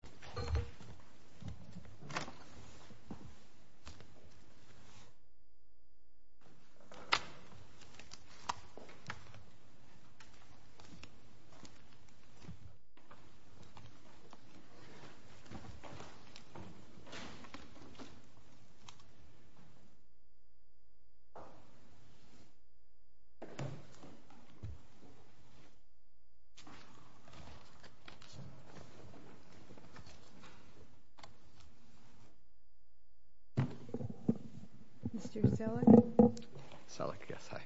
Soulbound Studios, LLC Mr. Selleck. Selleck, yes, hi.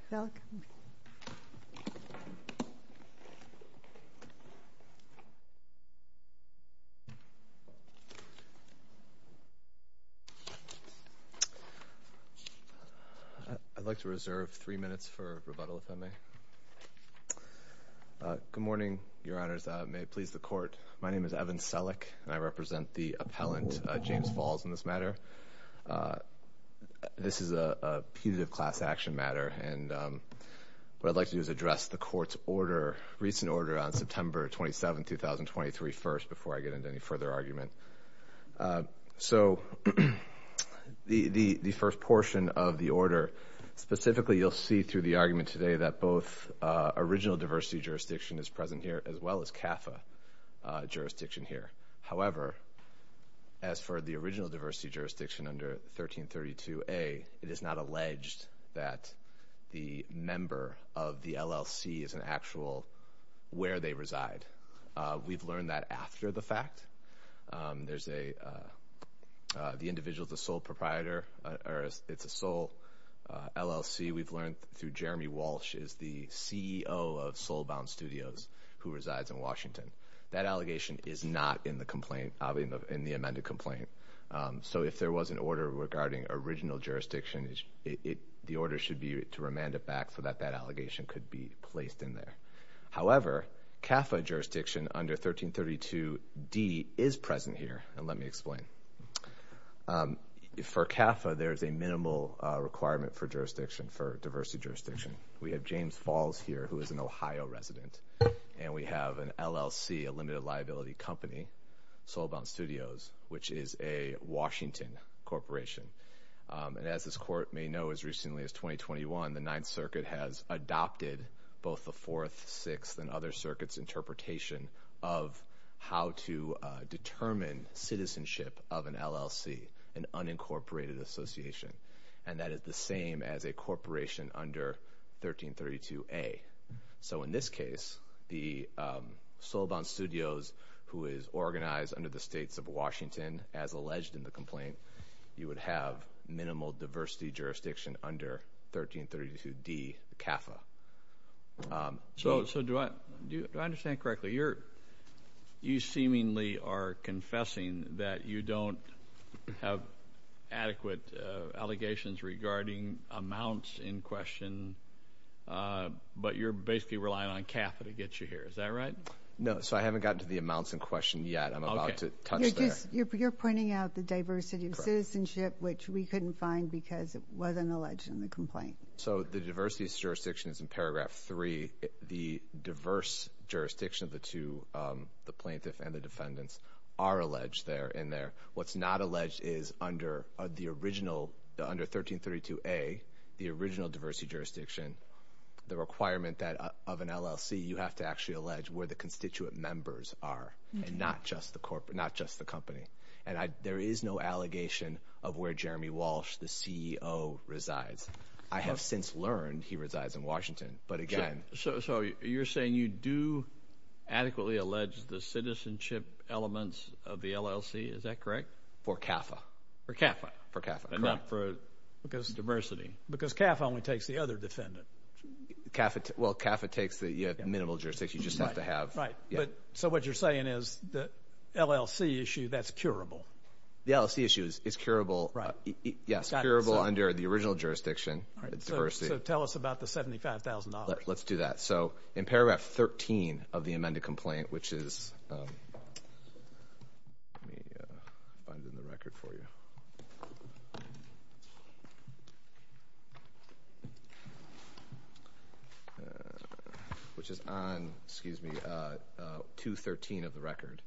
I'd like to reserve three minutes for rebuttal, if I may. Good morning, Your Honors. May it please the Court. My name is Evan Selleck, and I represent the appellant, James Falls, in this matter. This is a punitive class action matter, and what I'd like to do is address the Court's order, recent order, on September 27th, 2023, first, before I get into any further argument. So the first portion of the order, specifically, you'll see through the argument today that both original diversity jurisdiction is present here, as well as CAFA jurisdiction here. However, as for the original diversity jurisdiction under 1332A, it is not alleged that the member of the LLC is an actual where they reside. We've learned that after the fact. The individual's a sole proprietor, or it's a sole LLC. We've learned through Jeremy Walsh is the CEO of Soulbound Studios, who resides in Washington. That allegation is not in the complaint, in the amended complaint. So if there was an order regarding original jurisdiction, the order should be to remand it back so that that allegation could be placed in there. However, CAFA jurisdiction under 1332D is present here, and let me explain. For CAFA, there's a minimal requirement for jurisdiction for diversity jurisdiction. We have James Falls here, who is an Ohio resident, and we have an LLC, a limited liability company, Soulbound Studios, which is a Washington corporation. And as this court may know, as recently as 2021, the Ninth Circuit has adopted both the Fourth, Sixth, and other circuits' interpretation of how to determine citizenship of an LLC, an unincorporated association. And that is the same as a corporation under 1332A. So in this case, the Soulbound Studios, who is organized under the states of Washington, as alleged in the complaint, you would have minimal diversity jurisdiction under 1332D CAFA. So do I understand correctly? You're, you seemingly are confessing that you don't have adequate allegations regarding amounts in question, but you're basically relying on CAFA to get you here. Is that right? No. So I haven't gotten to the amounts in question yet. I'm about to touch there. Okay. You're just, you're pointing out the diversity of citizenship, which we couldn't find because it wasn't alleged in the complaint. So the diversity of jurisdiction is in paragraph three. The diverse jurisdiction of the two, the plaintiff and the defendants, are alleged there, in there. What's not alleged is under the original, under 1332A, the original diversity jurisdiction, the requirement that of an LLC, you have to actually allege where the constituent members are, and not just the company. And there is no allegation of where Jeremy Walsh, the CEO, resides. I have since learned he adequately alleged the citizenship elements of the LLC. Is that correct? For CAFA. For CAFA. For CAFA, correct. And not for diversity. Because CAFA only takes the other defendant. Well, CAFA takes the minimal jurisdiction. You just have to have. Right. So what you're saying is the LLC issue, that's curable. The LLC issue is curable. Right. Yes, curable under the original jurisdiction, the diversity. So tell us about the $75,000. Let's do that. So in paragraph 13 of the amended complaint, which is, let me find it in the record for you. Which is on, excuse me, 213 of the record.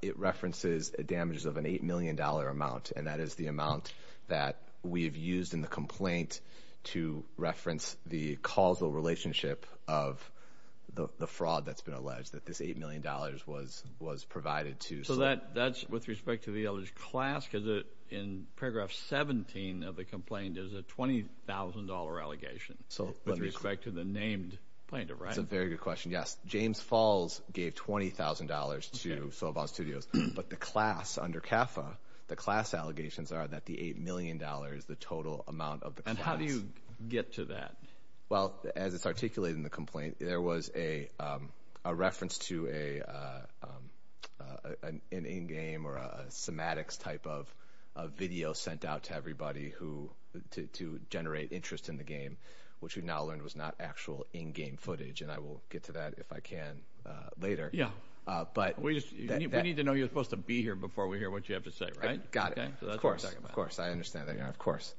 It references damages of an $8 million amount. And that is the amount that we have used in the complaint to reference the causal relationship of the fraud that's been alleged. That this $8 million was provided to. So that's with respect to the alleged class? Because in paragraph 17 of the complaint, there's a $20,000 allegation. So with respect to the named plaintiff, right? That's a very good question. Yes. James Falls gave $20,000 to Sova Studios. But the class under CAFA, the class allegations are that the $8 million is the total amount of the class. And how do you get to that? Well, as it's articulated in the complaint, there was a reference to an in-game or a semantics type of video sent out to everybody to generate interest in the game, which we've now learned was not actual in-game footage. And I will get to that if I can later. Yeah. But we need to know you're supposed to be here before we hear what you have to say, right? Got it. Of course. Of course. I understand that. Of course.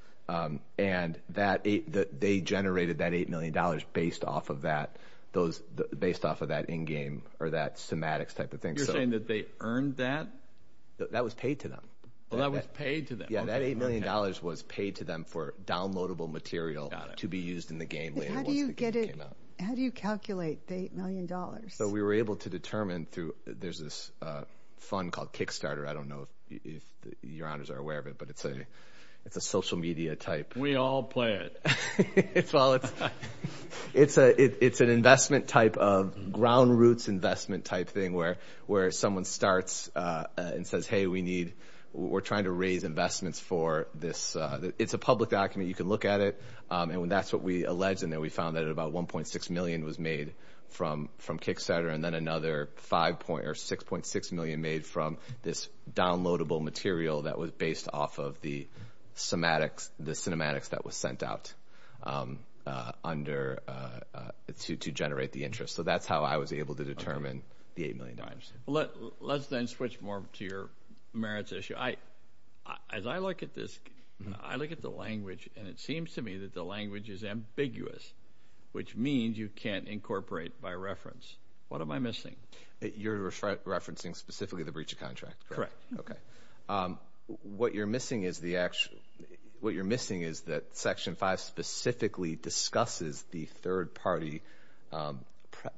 And that they generated that $8 million based off of that, those based off of that in-game or that semantics type of thing. You're saying that they earned that? That was paid to them. Well, that was paid to them. Yeah, that $8 million was paid to them for downloadable material to be used in the game. How do you calculate the $8 million? So we were able to determine through, there's this fund called Kickstarter. I don't know if your honors are aware of it, but it's a social media type. We all play it. It's an investment type of ground roots investment type thing where someone starts and says, hey, we need, we're trying to raise investments for this. It's a public document. You can look at it. And when that's what we alleged in there, we found that about 1.6 million was made from Kickstarter and then another five point or 6.6 million made from this downloadable material that was based off of the semantics, the cinematics that was sent out to generate the interest. So that's how I was able to determine the $8 million. Let's then switch more to your merits issue. As I look at this, I look at the language and it seems to me that the language is ambiguous, which means you can't incorporate by reference. What am I missing? You're referencing specifically the breach of contract. Correct. Okay. What you're missing is the actual, what you're missing is that section five specifically discusses the third party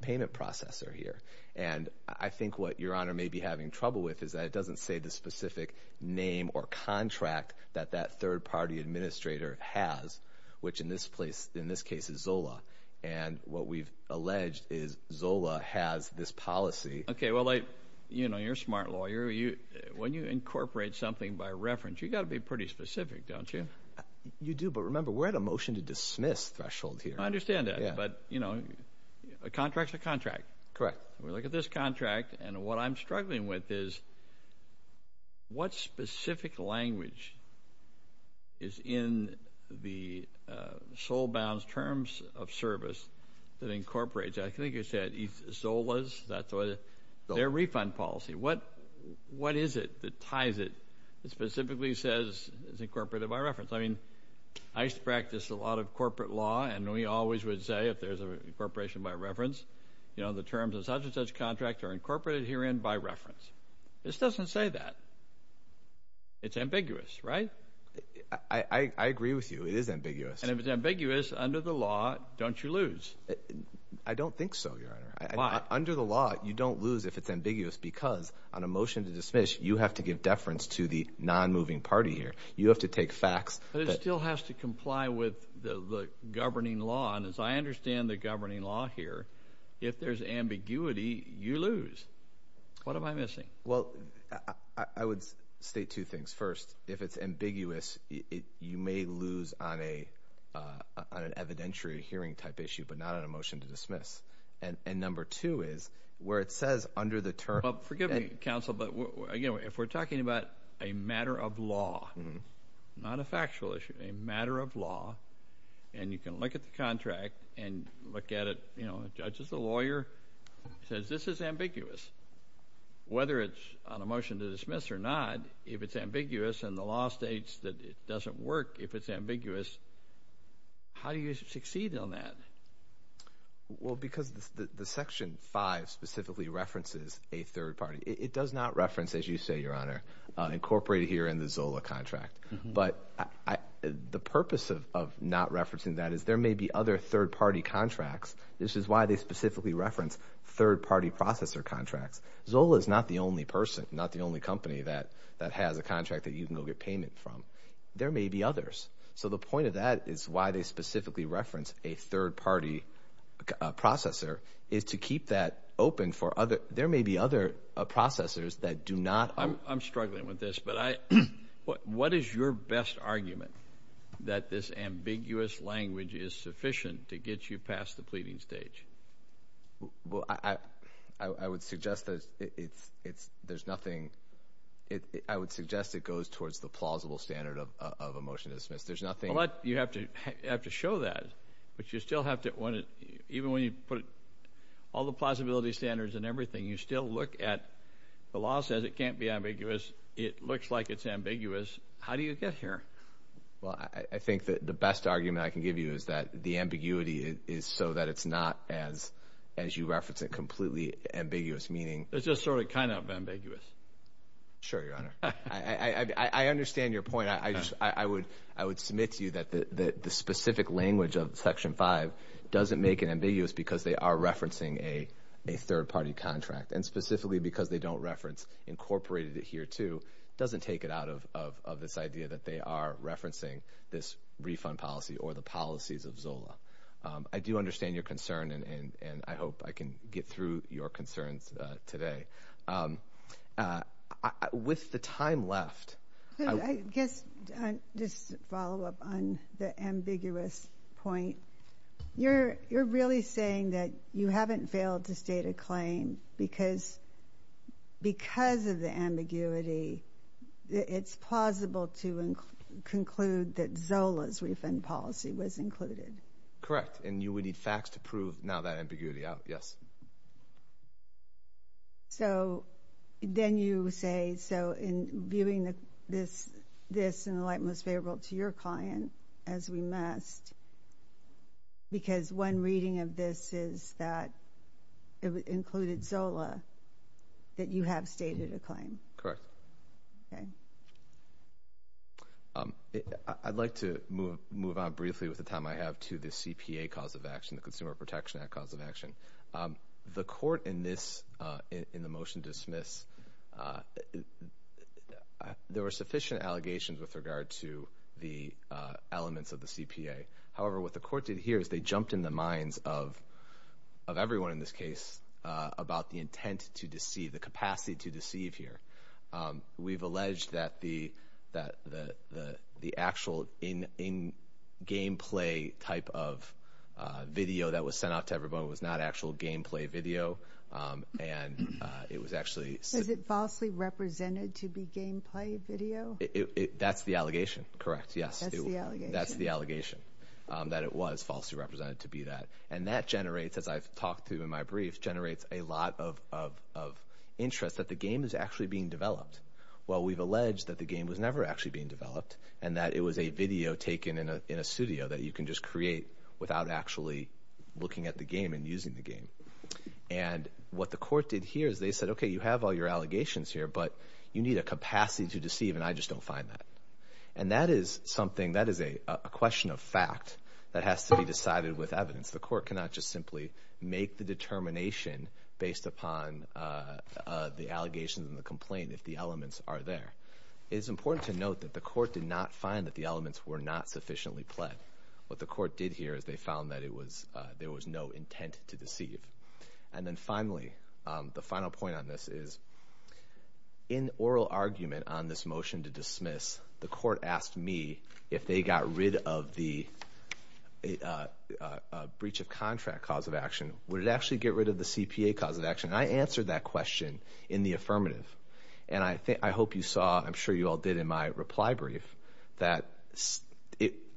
payment processor here. And I think what your honor may be having trouble with is that it doesn't say the specific name or contract that that third party administrator has, which in this case is Zola. And what we've alleged is Zola has this policy. Okay. Well, you're a smart lawyer. When you incorporate something by reference, you got to be pretty specific, don't you? You do. But remember, we're at a motion to dismiss threshold here. I understand that. But a contract's a contract. Correct. We look at this contract and what I'm struggling with is what specific language is in the sole bounds terms of service that incorporates, I think you said Zola's, that's what, their refund policy. What is it that ties it that specifically says it's incorporated by reference? I mean, I used to practice a lot of corporate law and we always would say if there's an incorporation by reference, the terms of such and such contract are incorporated herein by reference. This doesn't say that. It's ambiguous, right? I agree with you. It is ambiguous. And if it's ambiguous under the law, don't you lose? I don't think so, your honor. Why? Under the law, you don't lose if it's ambiguous because on a motion to dismiss, you have to give deference to the non-moving party here. You have to take facts. But it still has to comply with the governing law. And as I understand the governing law here, if there's ambiguity, you lose. What am I missing? Well, I would state two things. First, if it's ambiguous, you may lose on an evidentiary hearing type issue but not on a motion to dismiss. And number two is where it says under the term... Well, forgive me, counsel, but again, if we're talking about a matter of law, not a factual issue, a matter of law, and you can look at the contract and look at it, you know, the judge is a lawyer. He says this is ambiguous. Whether it's on a motion to dismiss or not, if it's ambiguous and the law states that it doesn't work if it's ambiguous, how do you succeed on that? Well, because the Section 5 specifically references a third party. It does not reference, as you say, your honor, incorporated here in the ZOLA contract. But the purpose of not referencing that is there may be other third party contracts. This is why they specifically reference third party processor contracts. ZOLA is not the only person, not the only company that has a contract that you can go get payment from. There may be others. So the point of that is why they specifically reference a third party processor is to keep that open for other... There may be other processors that do not... Your best argument that this ambiguous language is sufficient to get you past the pleading stage. Well, I would suggest that there's nothing... I would suggest it goes towards the plausible standard of a motion to dismiss. There's nothing... Well, you have to show that, but you still have to... Even when you put all the plausibility standards and everything, you still look at... The law says it can't be ambiguous. It looks like it's ambiguous. How do you get here? Well, I think that the best argument I can give you is that the ambiguity is so that it's not as you reference it completely ambiguous, meaning... It's just sort of kind of ambiguous. Sure, your honor. I understand your point. I would submit to you that the specific language of Section 5 doesn't make it ambiguous because they are referencing a third party contract, and specifically because they don't reference incorporated here too, doesn't take it out of this idea that they are referencing this refund policy or the policies of ZOLA. I do understand your concern, and I hope I can get through your concerns today. With the time left... I guess just to follow up on the ambiguous point, you're really saying that you haven't failed to state a claim because of the ambiguity, it's plausible to conclude that ZOLA's refund policy was included. Correct. And we need facts to prove now that ambiguity out. Yes. So then you say, so in viewing this in the light most favorable to your client, as we must, because one reading of this is that it included ZOLA, that you have stated a claim. Correct. Okay. I'd like to move on briefly with the time I have to the CPA cause of action, the Consumer Protection Act cause of action. The court in this, in the motion to dismiss, there were sufficient allegations with regard to the elements of the CPA. However, what the court did here is they jumped in the minds of everyone in this case about the intent to deceive, the capacity to deceive here. We've alleged that the actual in-game play type of video that was sent out to everyone was not actual gameplay video, and it was actually... Is it falsely represented to be gameplay video? That's the allegation. Correct. Yes. That's the allegation. That it was falsely represented to be that. And that generates, as I've talked to in my brief, generates a lot of interest that the game is actually being developed. Well, we've alleged that the game was never actually being developed and that it was a video taken in a studio that you can just create without actually looking at the game and using the game. And what the court did here is they said, okay, you have all your allegations here, but you need a capacity to fact that has to be decided with evidence. The court cannot just simply make the determination based upon the allegations and the complaint if the elements are there. It's important to note that the court did not find that the elements were not sufficiently played. What the court did here is they found that there was no intent to deceive. And then finally, the final point on this is in oral argument on this motion to dismiss, the court asked me if they got rid of the breach of contract cause of action, would it actually get rid of the CPA cause of action? And I answered that question in the affirmative. And I hope you saw, I'm sure you all did in my reply brief, that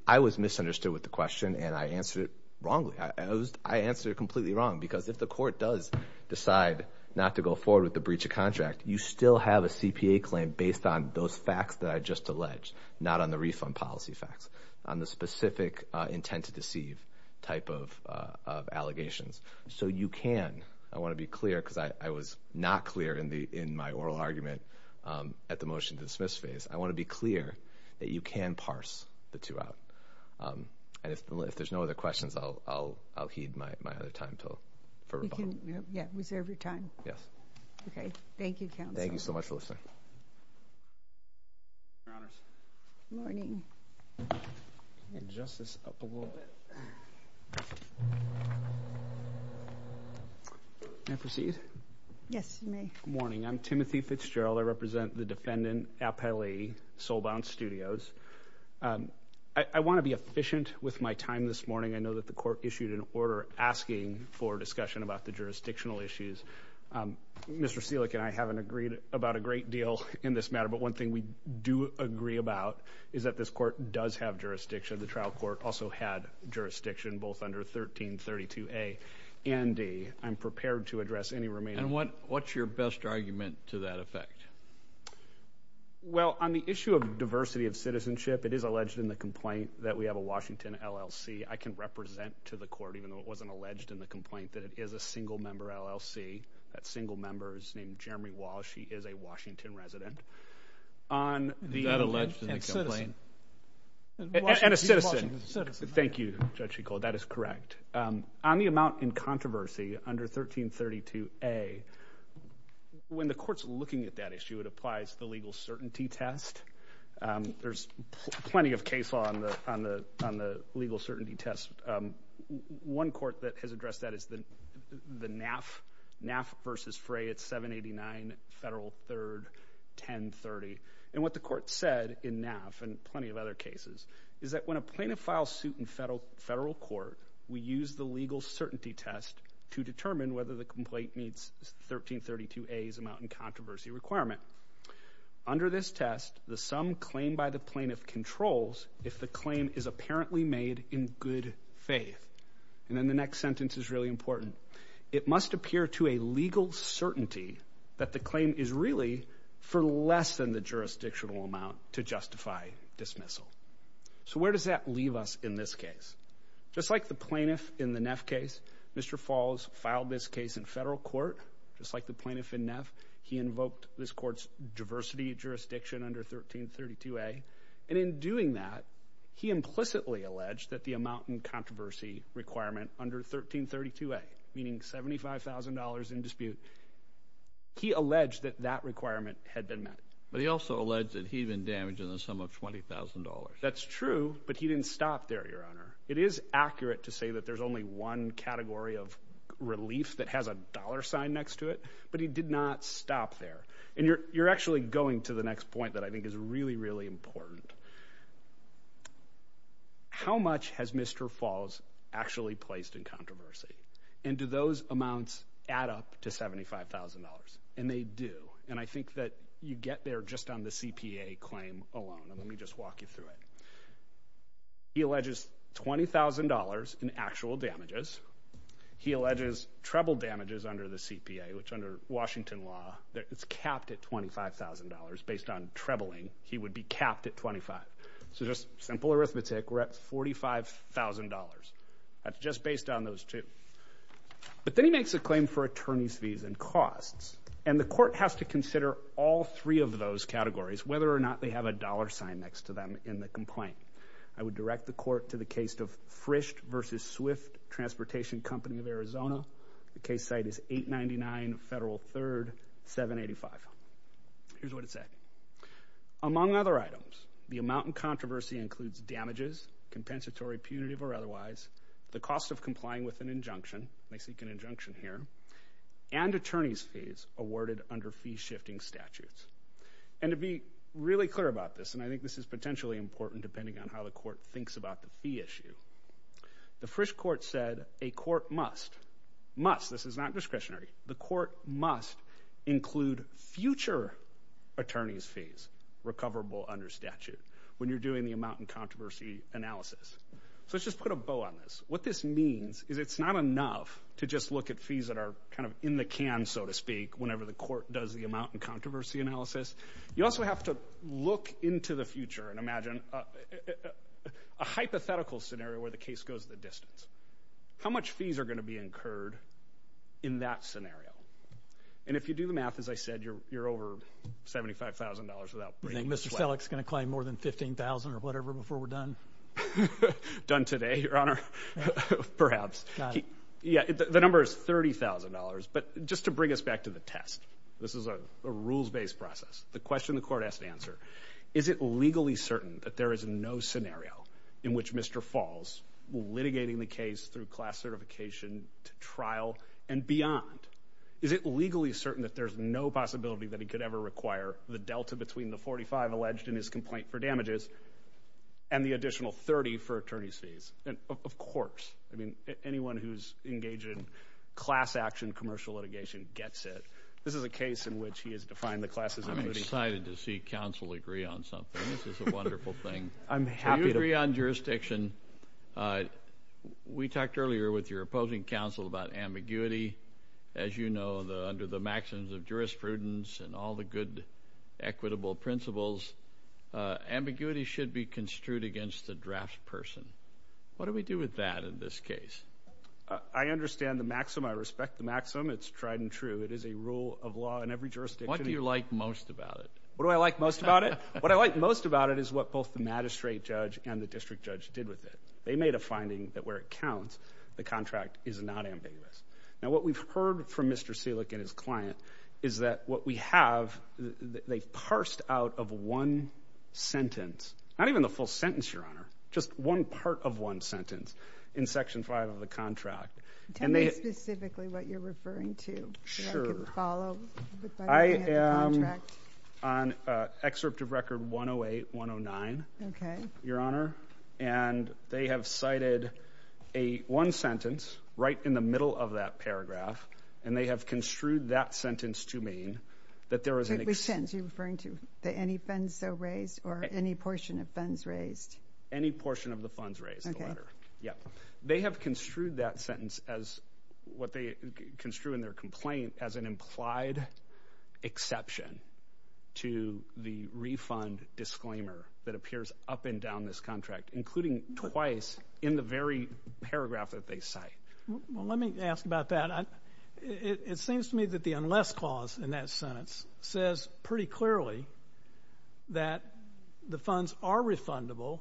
I was misunderstood with the question and I answered it wrongly. I answered it completely wrong. Because if the court does decide not to go forward with the breach of contract, you still have a CPA claim based on those facts that I just alleged, not on the refund policy facts, on the specific intent to deceive type of allegations. So you can, I want to be clear because I was not clear in my oral argument at the motion to dismiss phase, I want to be clear that you can parse the two out. And if there's no other questions, I'll heed my other time for Yeah. Reserve your time. Yes. Okay. Thank you, counsel. Thank you so much for listening. Morning. Can I proceed? Yes, you may. Good morning. I'm Timothy Fitzgerald. I represent the defendant, Appali, Soulbound Studios. I want to be efficient with my time this morning. I know the court issued an order asking for discussion about the jurisdictional issues. Mr. Selick and I haven't agreed about a great deal in this matter. But one thing we do agree about is that this court does have jurisdiction. The trial court also had jurisdiction, both under 1332A and D. I'm prepared to address any remaining... And what's your best argument to that effect? Well, on the issue of diversity of citizenship, it is alleged in the complaint that we have a resident to the court, even though it wasn't alleged in the complaint, that it is a single member LLC. That single member is named Jeremy Walsh. He is a Washington resident. Is that alleged in the complaint? And a citizen. And a Washington citizen. Thank you, Judge McCullough. That is correct. On the amount in controversy under 1332A, when the court's looking at that issue, it applies the legal certainty test. There's plenty of case law on the legal certainty test. One court that has addressed that is the NAF. NAF versus Frey. It's 789 Federal 3rd 1030. And what the court said in NAF, and plenty of other cases, is that when a plaintiff files suit in federal court, we use the legal certainty test to determine whether the complaint meets 1332A's amount in controversy requirement. Under this test, the sum claimed by the plaintiff controls if the claim is apparently made in good faith. And then the next sentence is really important. It must appear to a legal certainty that the claim is really for less than the jurisdictional amount to justify dismissal. So where does that leave us in this case? Just like the plaintiff in the NAF case, Mr. Falls filed this case in federal court, just like the plaintiff in NAF. He invoked this court's diversity jurisdiction under 1332A. And in doing that, he implicitly alleged that the amount in controversy requirement under 1332A, meaning $75,000 in dispute, he alleged that that requirement had been met. But he also alleged that he'd been damaged in the sum of $20,000. That's true, but he didn't stop there, Your Honor. It is accurate to say that there's only one category of relief that has a dollar sign next to it, but he did not stop there. And you're actually going to the next point that I think is really, really important. How much has Mr. Falls actually placed in controversy? And do those amounts add up to $75,000? And they do. And I think that you get there just on the CPA claim alone. Let me just walk you through it. He alleges $20,000 in actual damages. He alleges treble damages under the CPA, which under Washington law, it's capped at $25,000 based on trebling. He would be capped at $25,000. So just simple arithmetic, we're at $45,000. That's just based on those two. But then he makes a claim for attorney's fees and costs. And the court has to consider all three of those categories, whether or not they have a dollar sign next to them in the complaint. I would direct the court to the case of Frist v. Swift Transportation Company of Arizona. The case site is 899 Federal 3rd, 785. Here's what it said. Among other items, the amount in controversy includes damages, compensatory, punitive, or otherwise, the cost of complying with an injunction, and I seek an injunction here, and attorney's fees awarded under fee-shifting statutes. And to be really clear about this, and I think this is potentially important depending on how the court thinks about the fee issue, the Frist court said a court must must, this is not discretionary, the court must include future attorney's fees, recoverable under statute, when you're doing the amount in controversy analysis. So let's just put a bow on this. What this means is it's not enough to just look at fees that are kind of in the can, so to speak, whenever the court does the amount in controversy analysis. You also have to look into the future and imagine a hypothetical scenario where the case goes the distance. How much fees are going to be incurred in that scenario? And if you do the math, as I said, you're over $75,000. You think Mr. Selleck's going to claim more than $15,000 or whatever before we're done? Done today, Your Honor, perhaps. Yeah, the number is $30,000. But just to bring us back to the test, this is a rules-based process. The question the court has to answer, is it legally certain that there is no scenario in which Mr. Falls, litigating the case through class certification to trial and beyond, is it legally certain that there's no possibility that he could ever require the delta between the 45 alleged in his complaint for damages and the additional 30 for attorney's fees? And of course, I mean, anyone who's engaged in class action commercial litigation gets it. This is a case in which he has defined the classes. I'm excited to see counsel agree on something. This is a wonderful thing. I'm happy to... So you agree on jurisdiction. We talked earlier with your opposing counsel about ambiguity. As you know, under the maxims of jurisprudence and all the good, equitable principles, ambiguity should be construed against the draft person. What do we do with that in this case? I understand the maxim. I respect the maxim. It's tried and true. It is a rule of law in every jurisdiction. What do you like most about it? What do I like most about it? What I like most about it is what both the magistrate judge and the district judge did with it. They made a finding that where it counts, the contract is not ambiguous. Now, what we've heard from Mr. Selick and his client is that what we have, they've parsed out of one sentence, not even the full sentence, Your Honor, just one part of one sentence in section five of the contract. Tell me specifically what you're referring to. Sure. I am on excerpt of record 108-109, Your Honor, and they have cited one sentence right in the middle of that paragraph, and they have construed that sentence to mean that there was an... Which sentence are you referring to? Any funds so raised or any portion of funds raised? Any portion of the funds raised, the letter. Okay. They have construed that sentence as what they construed in their complaint as an implied exception to the refund disclaimer that appears up and down this contract, including twice in the very paragraph that they cite. Well, let me ask about that. It seems to me that the unless clause in that sentence says pretty clearly that the funds are refundable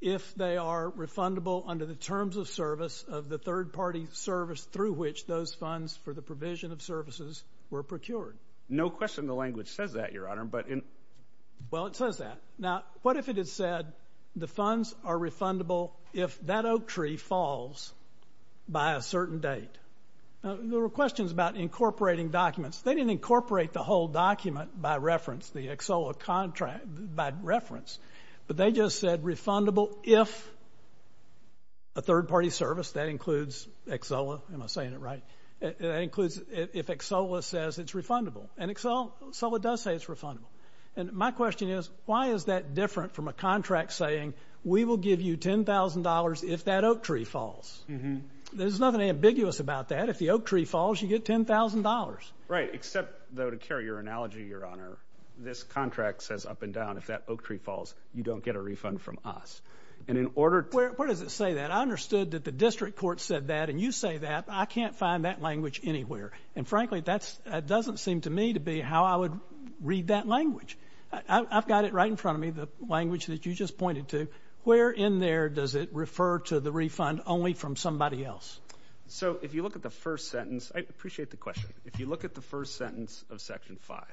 if they are refundable under the terms of service of the third-party service through which those funds for the provision of services were procured. No question the language says that, Your Honor, but in... Well, it says that. Now, what if it had said the funds are refundable if that oak tree falls by a certain date? Now, there were questions about incorporating documents. They didn't incorporate the whole document by reference, the EXOLA contract by reference, but they just said refundable if a third-party service, that includes EXOLA. Am I saying it right? That includes if EXOLA says it's refundable. And EXOLA does say it's refundable. And my question is, why is that different from a contract saying we will give you $10,000 if that oak tree falls? There's nothing ambiguous about that. If the oak tree falls, you get $10,000. Right, except, though, to carry your analogy, Your Honor, this contract says up and down if that oak tree falls, you don't get a refund from us. And in order to... Where does it say that? I understood that the district court said that, and you say that. I can't find that language anywhere. And frankly, that doesn't seem to me to be how I would read that language. I've got it right in front of me, the language that you just So if you look at the first sentence, I appreciate the question. If you look at the first sentence of Section 5,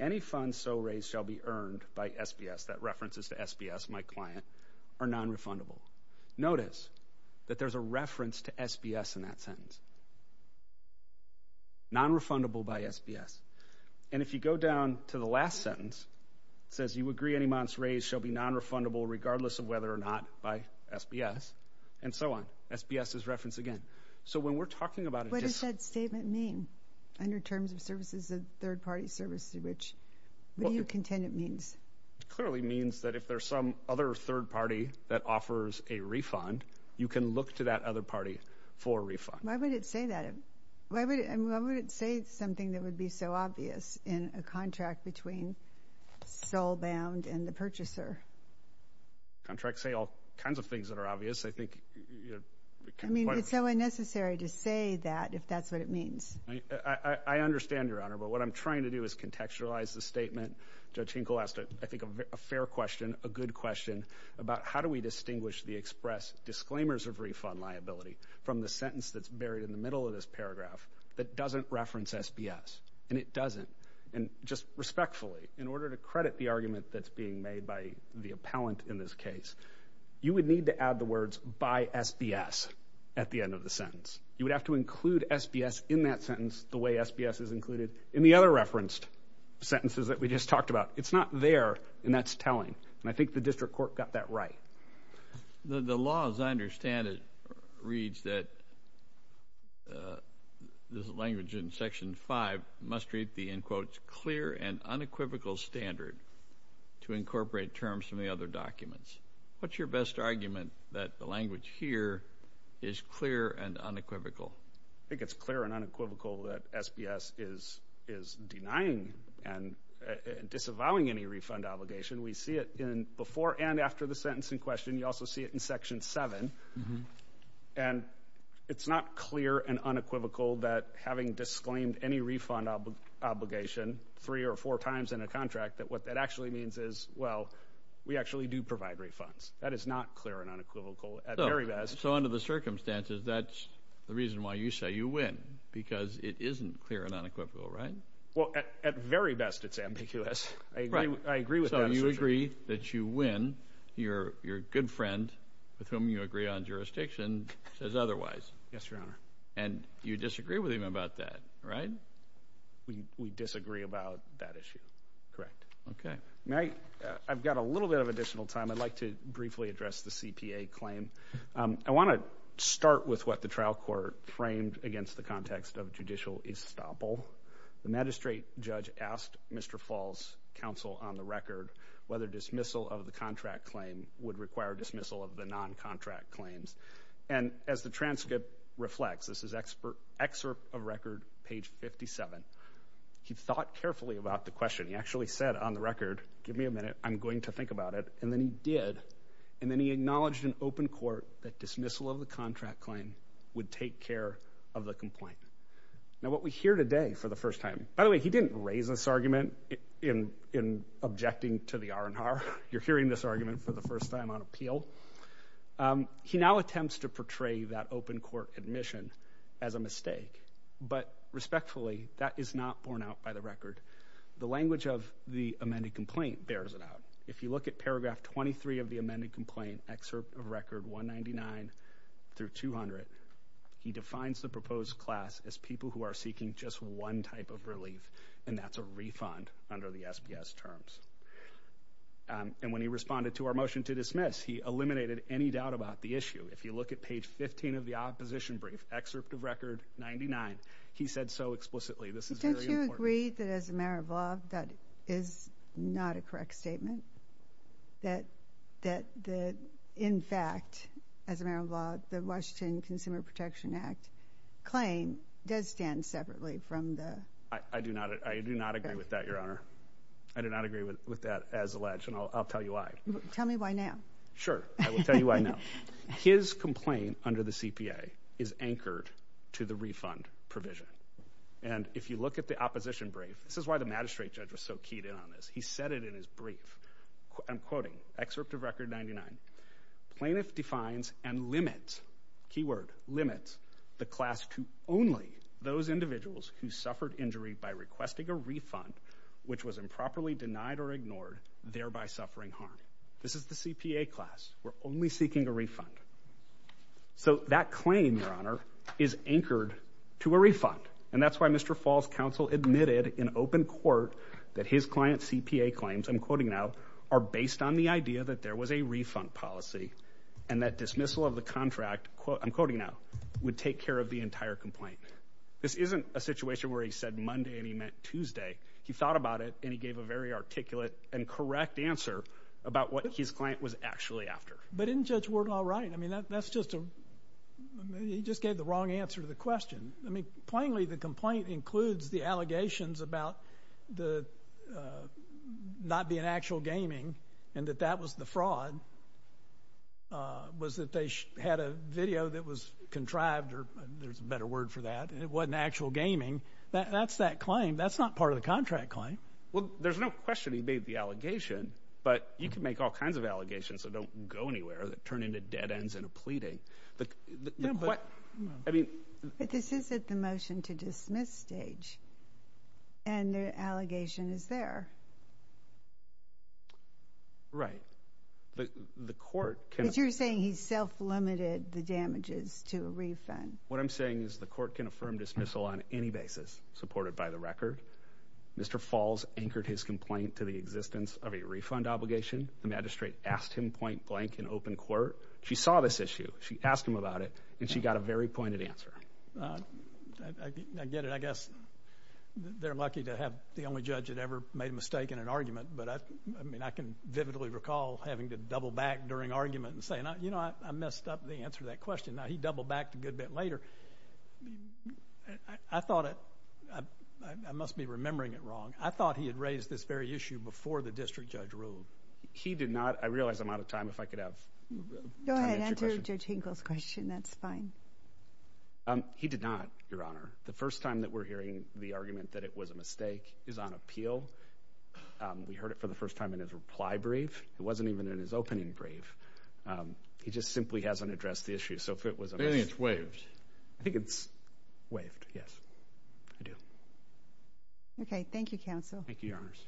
any funds so raised shall be earned by SBS, that reference is to SBS, my client, are non-refundable. Notice that there's a reference to SBS in that sentence. Non-refundable by SBS. And if you go down to the last sentence, it says you agree any So when we're talking about... What does that statement mean, under terms of services of third-party services? What do you contend it means? Clearly means that if there's some other third party that offers a refund, you can look to that other party for a refund. Why would it say that? Why would it say something that would be so obvious in a contract between sole bound and the purchaser? Contracts say all kinds of things that are It's so unnecessary to say that if that's what it means. I understand, Your Honor, but what I'm trying to do is contextualize the statement. Judge Hinkle asked, I think, a fair question, a good question about how do we distinguish the express disclaimers of refund liability from the sentence that's buried in the middle of this paragraph that doesn't reference SBS. And it doesn't. And just respectfully, in order to credit the argument that's being made by the appellant in this case, you would need to add the words by SBS at the end of the sentence. You would have to include SBS in that sentence, the way SBS is included in the other referenced sentences that we just talked about. It's not there, and that's telling. And I think the district court got that right. The law, as I understand it, reads that this language in Section 5 must read the, in quotes, clear and unequivocal standard to incorporate terms from the other documents. What's your best argument that the language here is clear and unequivocal? I think it's clear and unequivocal that SBS is denying and disavowing any refund obligation. We see it in before and after the sentence in question. You also see it in Section 7. And it's not clear and unequivocal that having disclaimed any refund obligation three or four refunds. That is not clear and unequivocal at very best. So under the circumstances, that's the reason why you say you win, because it isn't clear and unequivocal, right? Well, at very best, it's ambiguous. I agree with that assertion. So you agree that you win. Your good friend, with whom you agree on jurisdiction, says otherwise. Yes, Your Honor. And you disagree with him about that, right? We disagree about that issue. Correct. Okay. I've got a little bit of additional time. I'd like to briefly address the CPA claim. I want to start with what the trial court framed against the context of judicial estoppel. The magistrate judge asked Mr. Falls' counsel on the record whether dismissal of the contract claim would require dismissal of the non-contract claims. And as the transcript reflects, this is excerpt of record, page 57, he thought carefully about the question. He actually said on the record, give me a minute, I'm going to think about it. And then he did. And then he acknowledged in open court that dismissal of the contract claim would take care of the complaint. Now, what we hear today for the first time, by the way, he didn't raise this argument in objecting to the R&R. You're hearing this argument for the first time on appeal. He now attempts to portray that open court admission as a mistake. But respectfully, that is not borne out by the record. The language of the amended complaint bears it out. If you look at paragraph 23 of the amended complaint, excerpt of record 199 through 200, he defines the proposed class as people who are seeking just one type of relief, and that's a refund under the SPS terms. And when he responded to our motion to dismiss, he eliminated any doubt about the issue. If you look at page 15 of the opposition brief, excerpt of record 99, he said so explicitly. Don't you agree that as a matter of law, that is not a correct statement? That in fact, as a matter of law, the Washington Consumer Protection Act claim does stand separately from the... I do not agree with that, Your Honor. I do not agree with that as alleged, and I'll tell you why. Tell me why now. Sure. I will tell you why now. His complaint under the CPA is anchored to the refund provision. And if you look at the opposition brief, this is why the magistrate judge was so keyed in on this. He said it in his brief. I'm quoting excerpt of record 99. Plaintiff defines and limits, key word, limits, the class to only those individuals who suffered injury by requesting a refund, which was improperly denied or ignored, thereby suffering harm. This is the CPA class. We're only seeking a refund. So that claim, Your Honor, is anchored to a refund. And that's why Mr. Falls' counsel admitted in open court that his client CPA claims, I'm quoting now, are based on the idea that there was a refund policy and that dismissal of the contract, I'm quoting now, would take care of the entire complaint. This isn't a situation where he said Monday and he meant Tuesday. He thought about it and he gave a very articulate and correct answer about what his client was actually after. But didn't Judge Ward all right? I mean, that's just a he just gave the wrong answer to the question. I mean, plainly, the complaint includes the allegations about the not being actual gaming and that that was the fraud, was that they had a video that was contrived or there's a better word for that. And it wasn't actual gaming. That's that claim. That's not part of the contract claim. Well, there's no question he made the allegation, but you can make all kinds of allegations. So don't go anywhere that turn into dead ends and a pleading. I mean, this isn't the motion to dismiss stage. And the allegation is there. Right. The court, you're saying he's self-limited the damages to a refund. What I'm saying is the court can affirm dismissal on any basis supported by the record. Mr. Falls anchored his complaint to the existence of a refund obligation. The magistrate asked him point blank in open court. She saw this issue. She asked him about it, and she got a very pointed answer. I get it. I guess they're lucky to have the only judge that ever made a mistake in an argument. But I mean, I can vividly recall having to double back during argument and saying, you know, I messed up the answer to that question. Now he doubled back a good bit later. I thought I must be remembering it wrong. I thought he had raised this very issue before the district judge ruled. He did not. I realize I'm out of time. If I could have. Go ahead. Enter your tingles question. That's fine. He did not, Your Honor. The first time that we're hearing the argument that it was a mistake is on appeal. We heard it for the first time in his reply brief. It wasn't even in his opening brief. He just simply hasn't addressed the issue. So if it was a thing, it's waived. I think it's waived. Yes, I do. OK, thank you, counsel. Thank you, Your Honors.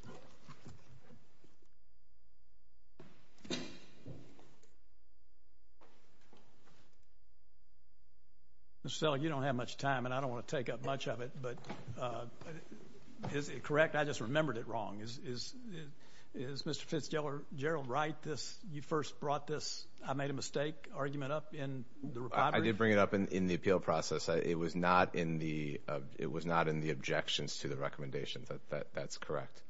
Mr. Selleck, you don't have much time, and I don't want to take up much of it. But is it correct? I just remembered it wrong. Is Mr. Fitzgerald right? You first brought this, I made a mistake, argument up in the reply brief? I did bring it up in the appeal process. It was not in the objections to the recommendation. That's correct.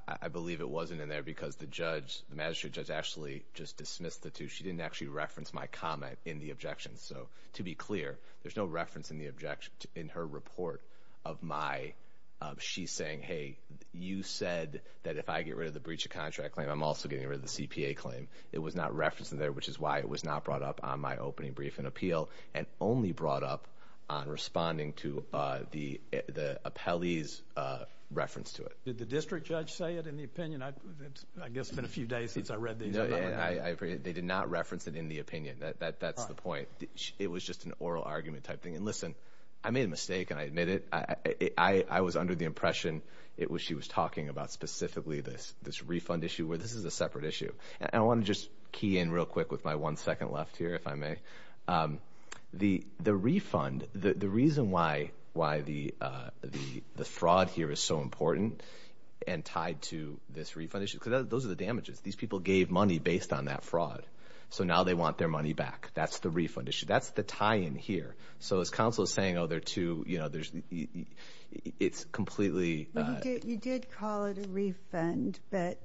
I believe it wasn't in there because the judge, the magistrate judge, actually just dismissed the two. She didn't actually reference my comment in the objections. So to be clear, there's no reference in the objection in her report of my, she's saying, hey, you said that if I get rid of the breach of contract claim, I'm also getting rid of the CPA claim. It was not referenced in there, which is why it was not brought up on my opening brief and only brought up on responding to the appellee's reference to it. Did the district judge say it in the opinion? I guess it's been a few days since I read these. They did not reference it in the opinion. That's the point. It was just an oral argument type thing. And listen, I made a mistake, and I admit it. I was under the impression it was she was talking about specifically this refund issue where this is a separate issue. And I want to just key in real quick with my one second left here, if I may. The refund, the reason why the fraud here is so important and tied to this refund issue, because those are the damages. These people gave money based on that fraud. So now they want their money back. That's the refund issue. That's the tie-in here. So as counsel is saying, oh, there are two, you know, there's, it's completely. You did call it a refund, but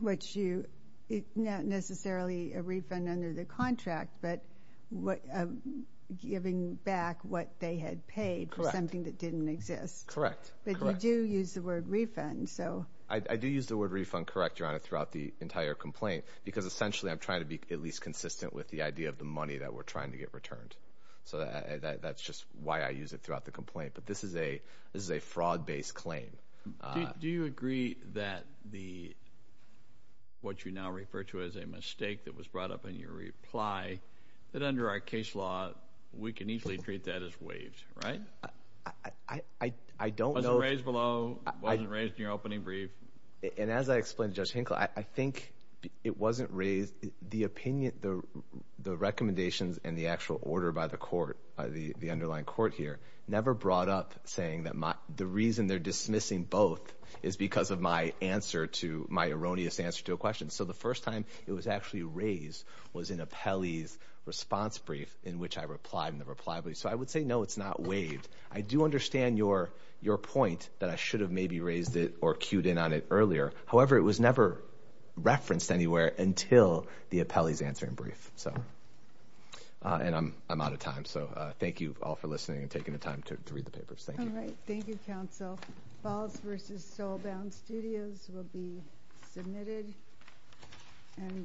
which you, not necessarily a refund under the contract, but what giving back what they had paid for something that didn't exist. Correct. But you do use the word refund. So I do use the word refund. Correct, Your Honor, throughout the entire complaint, because essentially I'm trying to be at least consistent with the idea of the money that we're trying to get returned. So that's just why I use it throughout the complaint. But this is a, this is a fraud based claim. Do you agree that the, what you now refer to as a mistake that was brought up in your reply that under our case law, we can easily treat that as waived, right? I don't know. Wasn't raised below, wasn't raised in your opening brief. And as I explained to Judge Hinkle, I think it wasn't raised. The opinion, the recommendations and the actual order by the court, by the underlying court here, never brought up saying that my, the reason they're dismissing both is because of my answer to, my erroneous answer to a question. So the first time it was actually raised was in Apelli's response brief in which I replied in the reply brief. So I would say, no, it's not waived. I do understand your, your point that I should have maybe raised it or cued in on it earlier. However, it was never referenced anywhere until the Apelli's answering brief. So, and I'm, I'm out of time. So thank you all for listening and taking the time to read the papers. Thank you. Thank you, counsel. Falls versus Soulbound Studios will be submitted and we'll.